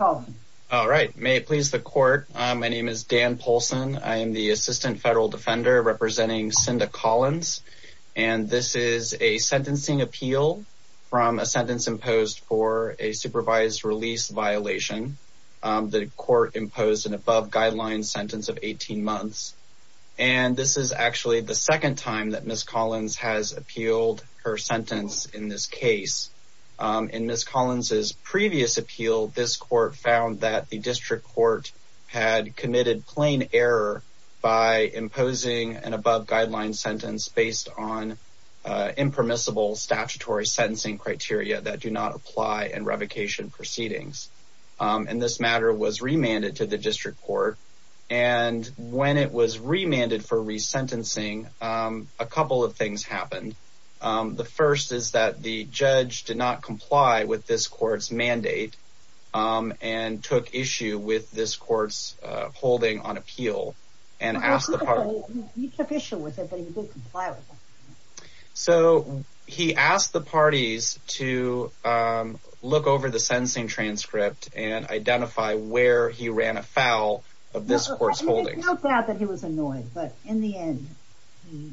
All right, may it please the court. My name is Dan Polson. I am the assistant federal defender representing Synda Collins, and this is a sentencing appeal from a sentence imposed for a supervised release violation. The court imposed an above guideline sentence of 18 months, and this is actually the second time that Miss Collins has appealed her sentence in this case. In Miss Collins's previous appeal, this court found that the district court had committed plain error by imposing an above guideline sentence based on impermissible statutory sentencing criteria that do not apply in revocation proceedings. This matter was remanded to the district court, and when it was remanded for resentencing, a couple of things happened. The first is that the judge did not comply with this court's mandate and took issue with this court's holding on appeal. He took issue with it, but he didn't comply with it. He asked the parties to look over the sentencing transcript and identify where he ran afoul of this court's holding. It's not that he was annoyed, but in the end, he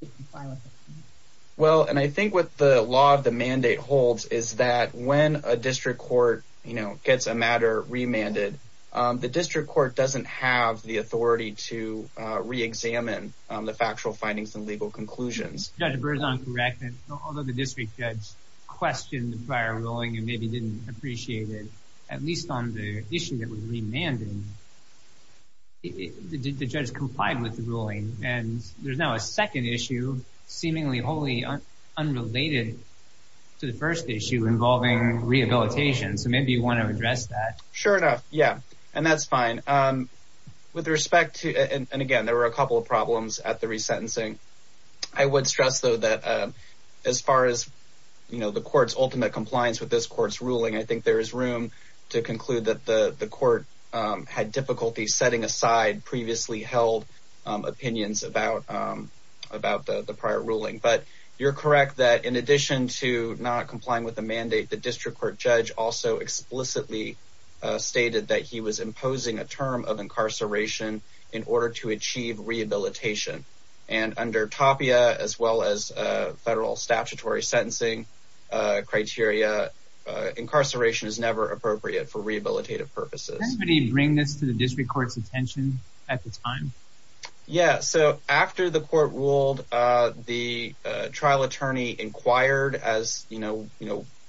didn't comply with it. I think what the law of the mandate holds is that when a district court gets a matter remanded, the district court doesn't have the authority to re-examine the factual findings and legal conclusions. Although the district judge questioned the prior ruling and maybe didn't appreciate it, at least on the issue that was remanded, the judge complied with the ruling. There's now a second issue seemingly wholly unrelated to the first issue involving rehabilitation, so maybe you want to address that. Sure enough, and that's fine. Again, there were a couple of problems at the resentencing. I would stress, though, that as far as the court's ultimate compliance with this court's ruling, I think there is room to conclude that the court had difficulty setting aside previously held opinions about the prior ruling. You're correct that in addition to not complying with the mandate, the district court judge also explicitly stated that he was imposing a term of incarceration in order to achieve rehabilitation. Under TAPIA, as well as federal statutory sentencing criteria, incarceration is never appropriate for rehabilitative purposes. Did anybody bring this to the district court's attention at the time? After the court ruled, the trial attorney inquired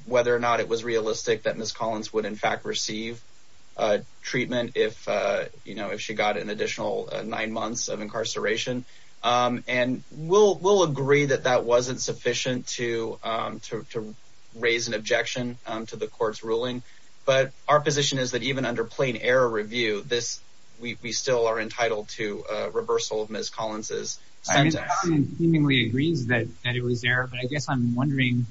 whether or not it was realistic that Ms. Collins would in fact receive treatment if she got an additional nine months of incarceration. We'll agree that that wasn't sufficient to raise an objection to the court's ruling, but our position is that even under plain error review, we still are entitled to a reversal of Ms. Collins' sentence. The attorney seemingly agrees that it was error, but I guess I'm wondering,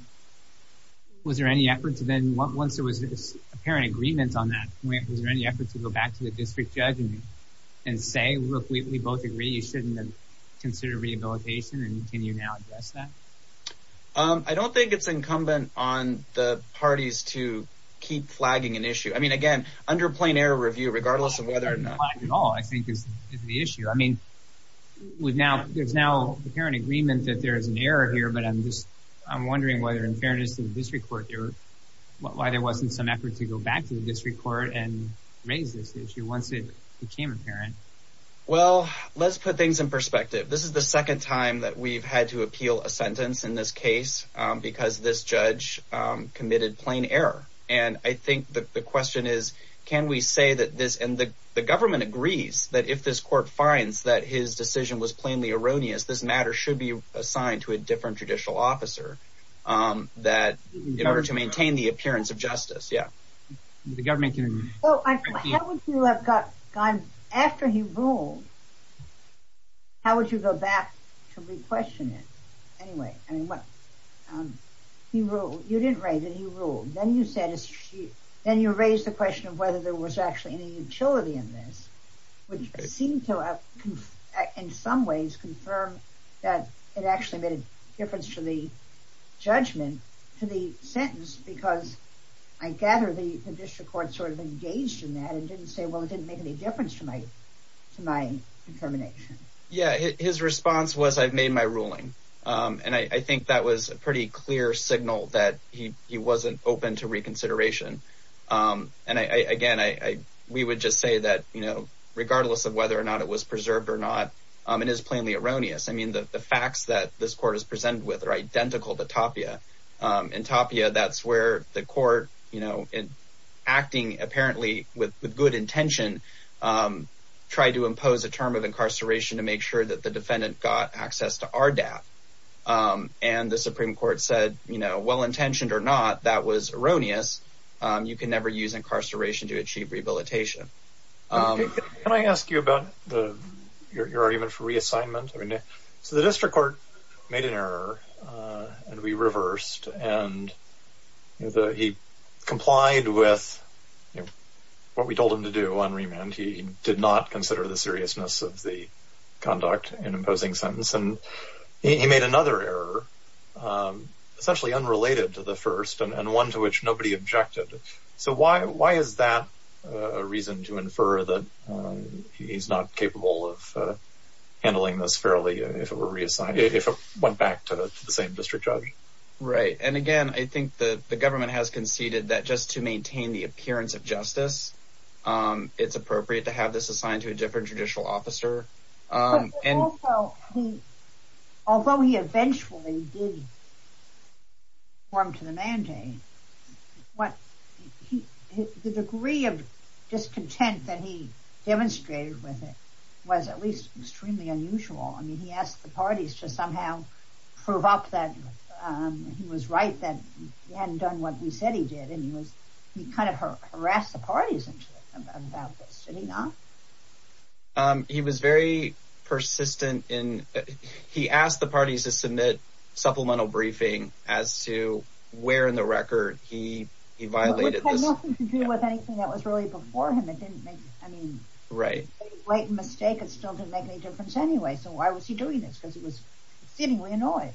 was there any effort to then, once there was apparent agreement on that, was there any effort to go back to the district judge and say, look, we both agree you shouldn't have considered rehabilitation, and can you now address that? I don't think it's incumbent on the parties to keep flagging an issue. I mean, again, under plain error review, regardless of whether or not... I don't think it's flagged at all, I think it's the issue. I mean, there's now apparent agreement that there's an error here, but I'm wondering whether in fairness to the district court, why there wasn't some effort to go back to the district court and raise this issue once it became apparent. Well, let's put things in perspective. This is the second time that we've had to appeal a sentence in this case because this judge committed plain error. And I think the question is, can we say that this... And the government agrees that if this court finds that his decision was plainly erroneous, this matter should be assigned to a different judicial officer in order to maintain the appearance of justice. Well, how would you have gone... After he ruled, how would you go back to re-question it? Anyway, you didn't raise that he ruled. Then you raised the question of whether there was actually any utility in this, which seemed to, in some ways, confirm that it actually made a difference to the judgment, to the sentence, because I gather the district court sort of engaged in that and didn't say, well, it didn't make any difference to my determination. Yeah, his response was, I've made my ruling. And I think that was a pretty clear signal that he wasn't open to reconsideration. And again, we would just say that, you know, regardless of whether or not it was preserved or not, it is plainly erroneous. I mean, the facts that this court is presented with are identical to Tapia. In Tapia, that's where the court, you know, acting apparently with good intention, tried to impose a term of incarceration to make sure that the defendant got access to our debt. And the Supreme Court said, you know, well-intentioned or not, that was erroneous. You can never use incarceration to achieve rehabilitation. Can I ask you about your argument for reassignment? So the district court made an error, and we reversed. And he complied with what we told him to do on remand. He did not consider the seriousness of the conduct in imposing sentence. And he made another error, essentially unrelated to the first, and one to which nobody objected. So why is that a reason to infer that he's not capable of handling this fairly if it were reassigned, if it went back to the same district judge? Right. And again, I think the government has conceded that just to maintain the appearance of justice, it's appropriate to have this assigned to a different judicial officer. Although he eventually did conform to the mandate, the degree of discontent that he demonstrated with it was at least extremely unusual. I mean, he asked the parties to somehow prove up that he was right, that he hadn't done what we said he did. And he kind of harassed the parties about this. Did he not? He was very persistent. He asked the parties to submit supplemental briefing as to where in the record he violated this. Which had nothing to do with anything that was really before him. It didn't make any great mistake. It still didn't make any difference anyway. So why was he doing this? Because he was seemingly annoyed.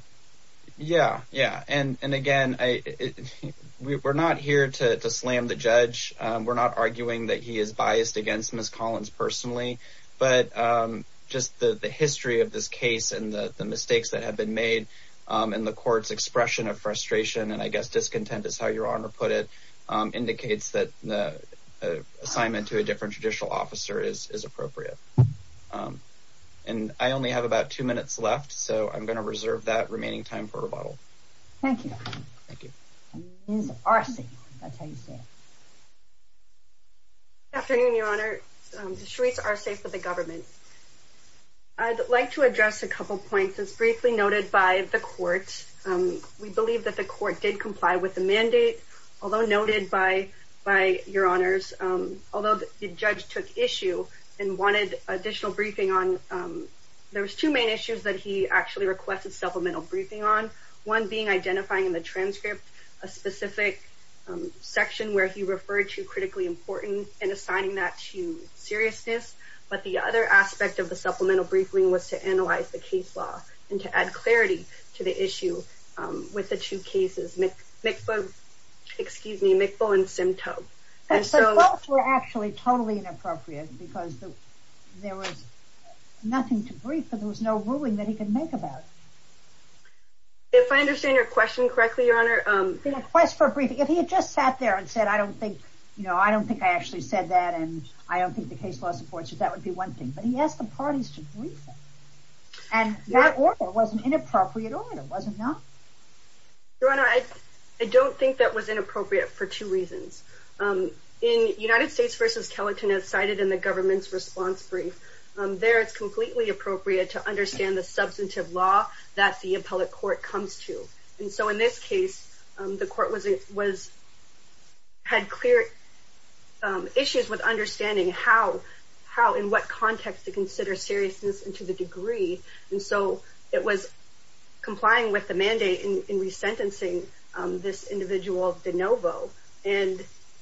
Yeah, yeah. And again, we're not here to slam the judge. We're not arguing that he is biased against Miss Collins personally. But just the history of this case and the mistakes that have been made in the court's expression of frustration, and I guess discontent is how your honor put it, indicates that the assignment to a different judicial officer is appropriate. And I only have about two minutes left, so I'm going to reserve that remaining time for rebuttal. Thank you. Thank you. Ms. Arce, that's how you say it. Good afternoon, your honor. Ms. Charisse Arce for the government. I'd like to address a couple of points that's briefly noted by the court. We believe that the court did comply with the mandate, although noted by your honors. Although the judge took issue and wanted additional briefing on, there was two main issues that he actually requested supplemental briefing on. One being identifying in the transcript a specific section where he referred to critically important and assigning that to seriousness. But the other aspect of the supplemental briefing was to analyze the case law and to add clarity to the issue with the two cases, excuse me, McBowen and Simtoe. Those were actually totally inappropriate because there was nothing to brief and there was no ruling that he could make about it. If I understand your question correctly, your honor. The request for briefing, if he had just sat there and said, I don't think, you know, I don't think I actually said that and I don't think the case law supports it, that would be one thing. But he asked the parties to brief him. And that order was an inappropriate order, was it not? Your honor, I don't think that was inappropriate for two reasons. In United States v. Kellerton, as cited in the government's response brief, there it's completely appropriate to understand the substantive law that the appellate court comes to. And so in this case, the court was, had clear issues with understanding how, in what context to consider seriousness and to the degree. And so it was complying with the mandate in resentencing this individual, DeNovo. And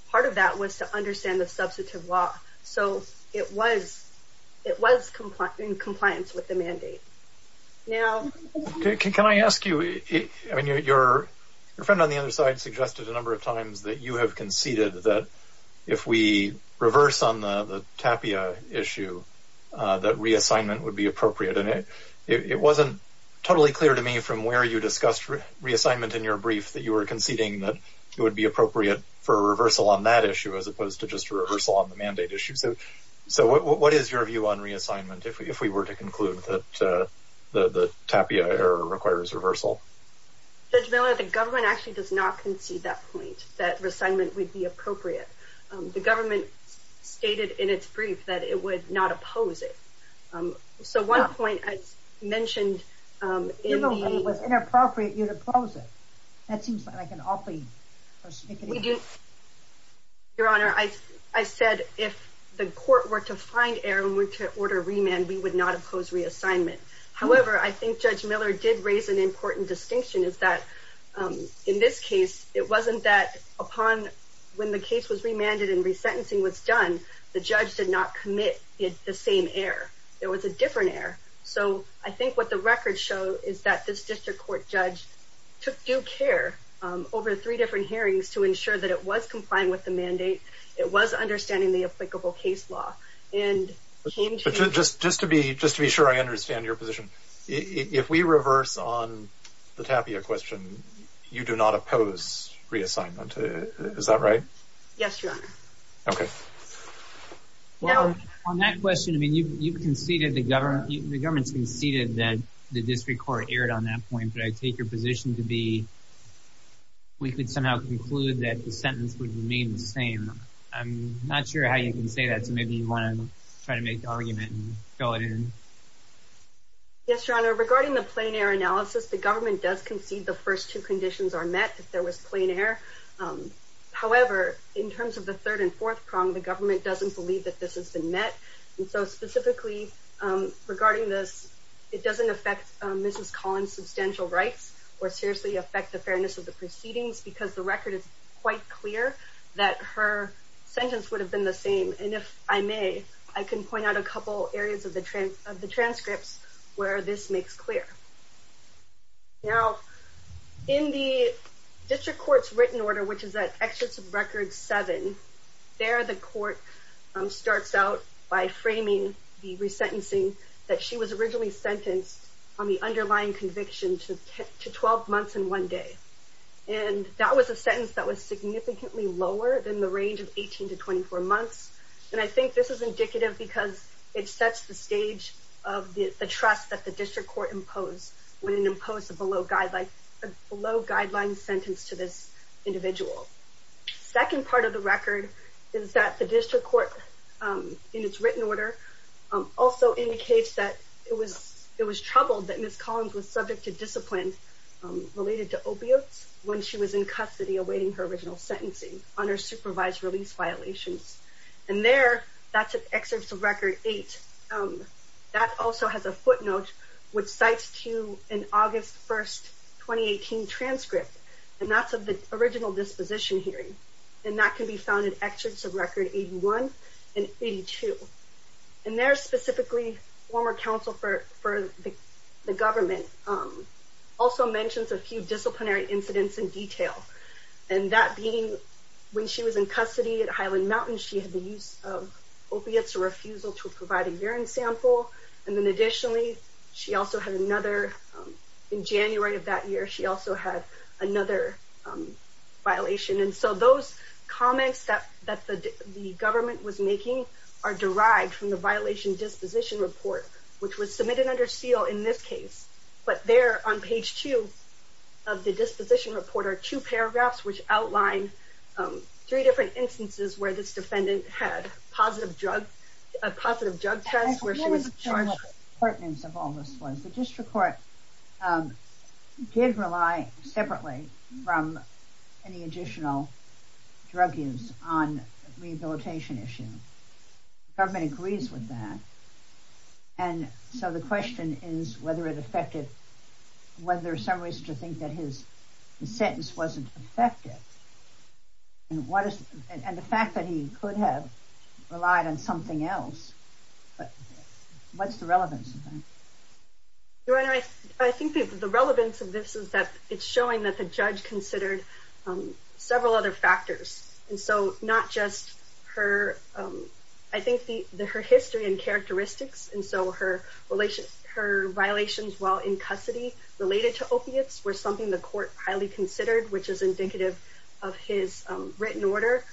part of that was to understand the substantive law. So it was in compliance with the mandate. Now, can I ask you, I mean, your friend on the other side suggested a number of times that you have conceded that if we reverse on the Tapia issue, that reassignment would be appropriate. And it wasn't totally clear to me from where you discussed reassignment in your brief that you were conceding that it would be appropriate for a reversal on that issue as opposed to just a reversal on the mandate issue. So what is your view on reassignment if we were to conclude that the Tapia error requires reversal? Judge Miller, the government actually does not concede that point, that reassignment would be appropriate. The government stated in its brief that it would not oppose it. So one point I mentioned in the... Your moment was inappropriate, you'd oppose it. That seems like an awfully perspicacious... We do... Your Honor, I said if the court were to find error and were to order remand, we would not oppose reassignment. However, I think Judge Miller did raise an important distinction is that in this case, it wasn't that upon when the case was remanded and resentencing was done, the judge did not commit the same error. It was a different error. So I think what the records show is that this district court judge took due care over three different hearings to ensure that it was complying with the mandate, it was understanding the applicable case law. Just to be sure I understand your position. If we reverse on the Tapia question, you do not oppose reassignment. Is that right? Yes, Your Honor. Okay. On that question, you conceded, the government conceded that the district court erred on that point. But I take your position to be we could somehow conclude that the sentence would remain the same. I'm not sure how you can say that. So maybe you want to try to make the argument and fill it in. Yes, Your Honor. Regarding the plain error analysis, the government does concede the first two conditions are met if there was plain error. However, in terms of the third and fourth prong, the government doesn't believe that this has been met. And so specifically regarding this, it doesn't affect Mrs. Collins' substantial rights or seriously affect the fairness of the proceedings because the record is quite clear that her sentence would have been the same. And if I may, I can point out a couple areas of the transcripts where this makes clear. Now, in the district court's written order, which is at Excerpt of Record 7, there the court starts out by framing the resentencing that she was originally sentenced on the underlying conviction to 12 months and one day. And that was a sentence that was significantly lower than the range of 18 to 24 months. And I think this is indicative because it sets the stage of the trust that the district court imposed when it imposed a below guideline sentence to this individual. Second part of the record is that the district court, in its written order, also indicates that it was troubled that Mrs. Collins was subject to discipline related to opiates when she was in custody awaiting her original sentencing on her supervised release violations. And there, that's at Excerpt of Record 8. That also has a footnote which cites to an August 1, 2018 transcript, and that's of the original disposition hearing. And that can be found in Excerpts of Record 81 and 82. And there, specifically, former counsel for the government also mentions a few disciplinary incidents in detail. And that being when she was in custody at Highland Mountain, she had the use of opiates, a refusal to provide a urine sample. And then, additionally, she also had another, in January of that year, she also had another violation. And so those comments that the government was making are derived from the violation disposition report, which was submitted under seal in this case. But there, on page two of the disposition report, are two paragraphs which outline three different instances where this defendant had a positive drug test, where she was charged... The District Court did rely, separately, from any additional drug use on a rehabilitation issue. The government agrees with that. And so the question is whether it affected... whether there's some reason to think that his sentence wasn't affected. And what is... and the fact that he could have relied on something else. But what's the relevance of that? Your Honor, I think the relevance of this is that it's showing that the judge considered several other factors. And so not just her... I think her history and characteristics, and so her violations while in custody related to opiates, were something the court highly considered, which is indicative of his written order.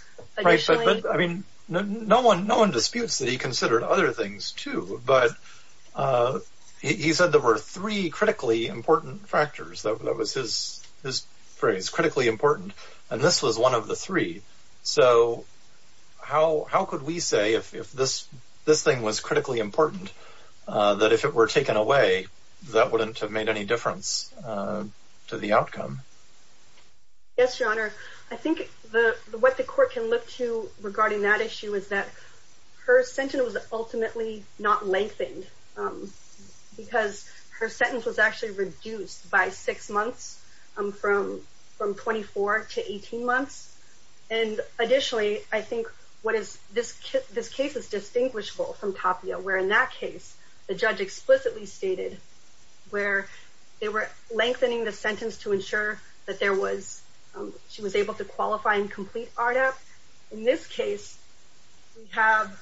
Right, but I mean, no one disputes that he considered other things, too. But he said there were three critically important factors. That was his phrase, critically important. And this was one of the three. So how could we say, if this thing was critically important, that if it were taken away, that wouldn't have made any difference to the outcome? Yes, Your Honor. I think what the court can look to regarding that issue is that her sentence was ultimately not lengthened. Because her sentence was actually reduced by six months, from 24 to 18 months. And additionally, I think what is... this case is distinguishable from Tapia, where in that case, the judge explicitly stated, where they were lengthening the sentence to ensure that there was... she was able to qualify and complete RDAP. In this case, we have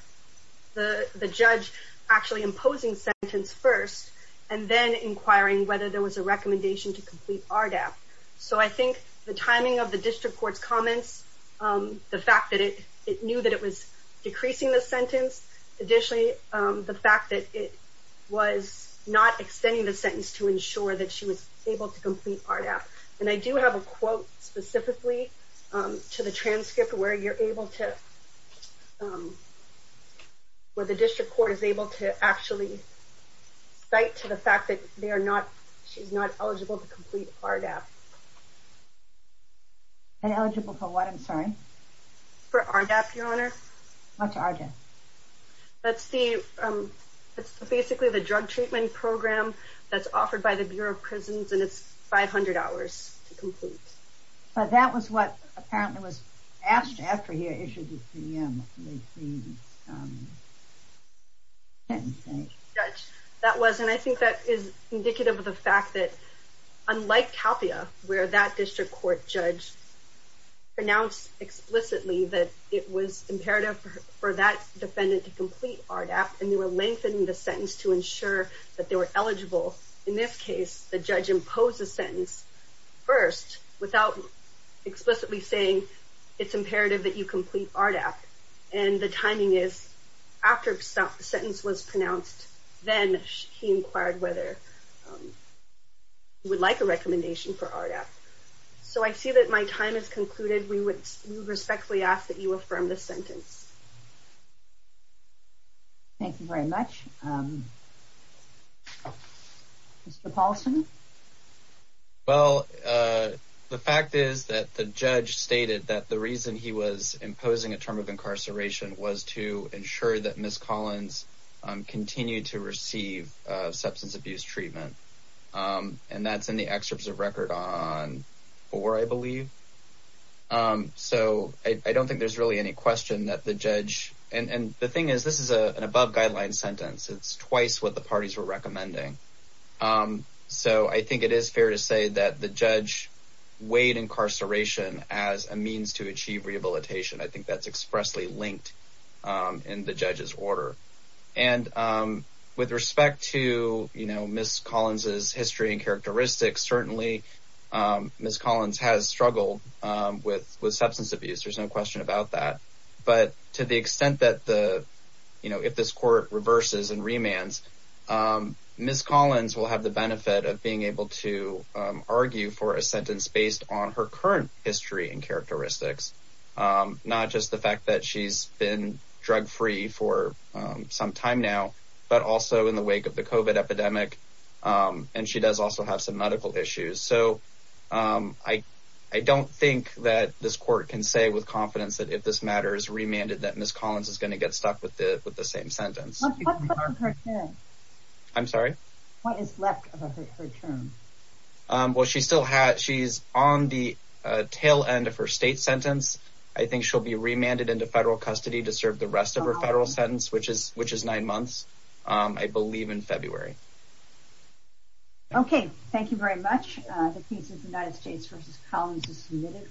the judge actually imposing sentence first, and then inquiring whether there was a recommendation to complete RDAP. So I think the timing of the district court's comments, the fact that it knew that it was decreasing the sentence, additionally, the fact that it was not extending the sentence to ensure that she was able to complete RDAP. And I do have a quote specifically to the transcript where you're able to... where the district court is able to actually cite to the fact that they are not... she's not eligible to complete RDAP. Eligible for what, I'm sorry? For RDAP, Your Honor. What's RDAP? That's the... it's basically the drug treatment program that's offered by the Bureau of Prisons, and it's 500 hours to complete. But that was what apparently was asked after he had issued his PM. That was, and I think that is indicative of the fact that, unlike Tapia, where that district court judge pronounced explicitly that it was imperative for that defendant to complete RDAP, and they were lengthening the sentence to ensure that they were eligible. In this case, the judge imposed the sentence first without explicitly saying, it's imperative that you complete RDAP. And the timing is, after the sentence was pronounced, then he inquired whether he would like a recommendation for RDAP. So I see that my time has concluded. We would respectfully ask that you affirm this sentence. Thank you very much. Mr. Paulson? Well, the fact is that the judge stated that the reason he was imposing a term of incarceration was to ensure that Ms. Collins continued to receive substance abuse treatment. And that's in the excerpts of record on 4, I believe. So I don't think there's really any question that the judge, and the thing is, this is an above-guideline sentence. It's twice what the parties were recommending. So I think it is fair to say that the judge weighed incarceration as a means to achieve rehabilitation. I think that's expressly linked in the judge's order. And with respect to, you know, Ms. Collins' history and characteristics, certainly Ms. Collins has struggled with substance abuse. There's no question about that. But to the extent that, you know, if this court reverses and remands, Ms. Collins will have the benefit of being able to argue for a sentence based on her current history and characteristics, not just the fact that she's been drug-free for some time now, but also in the wake of the COVID epidemic. And she does also have some medical issues. So I don't think that this court can say with confidence that if this matter is remanded, that Ms. Collins is going to get stuck with the same sentence. What's left of her term? I'm sorry? What is left of her term? Well, she's on the tail end of her state sentence. I think she'll be remanded into federal custody to serve the rest of her federal sentence, which is nine months, I believe, in February. Okay, thank you very much. The case of the United States v. Collins is submitted.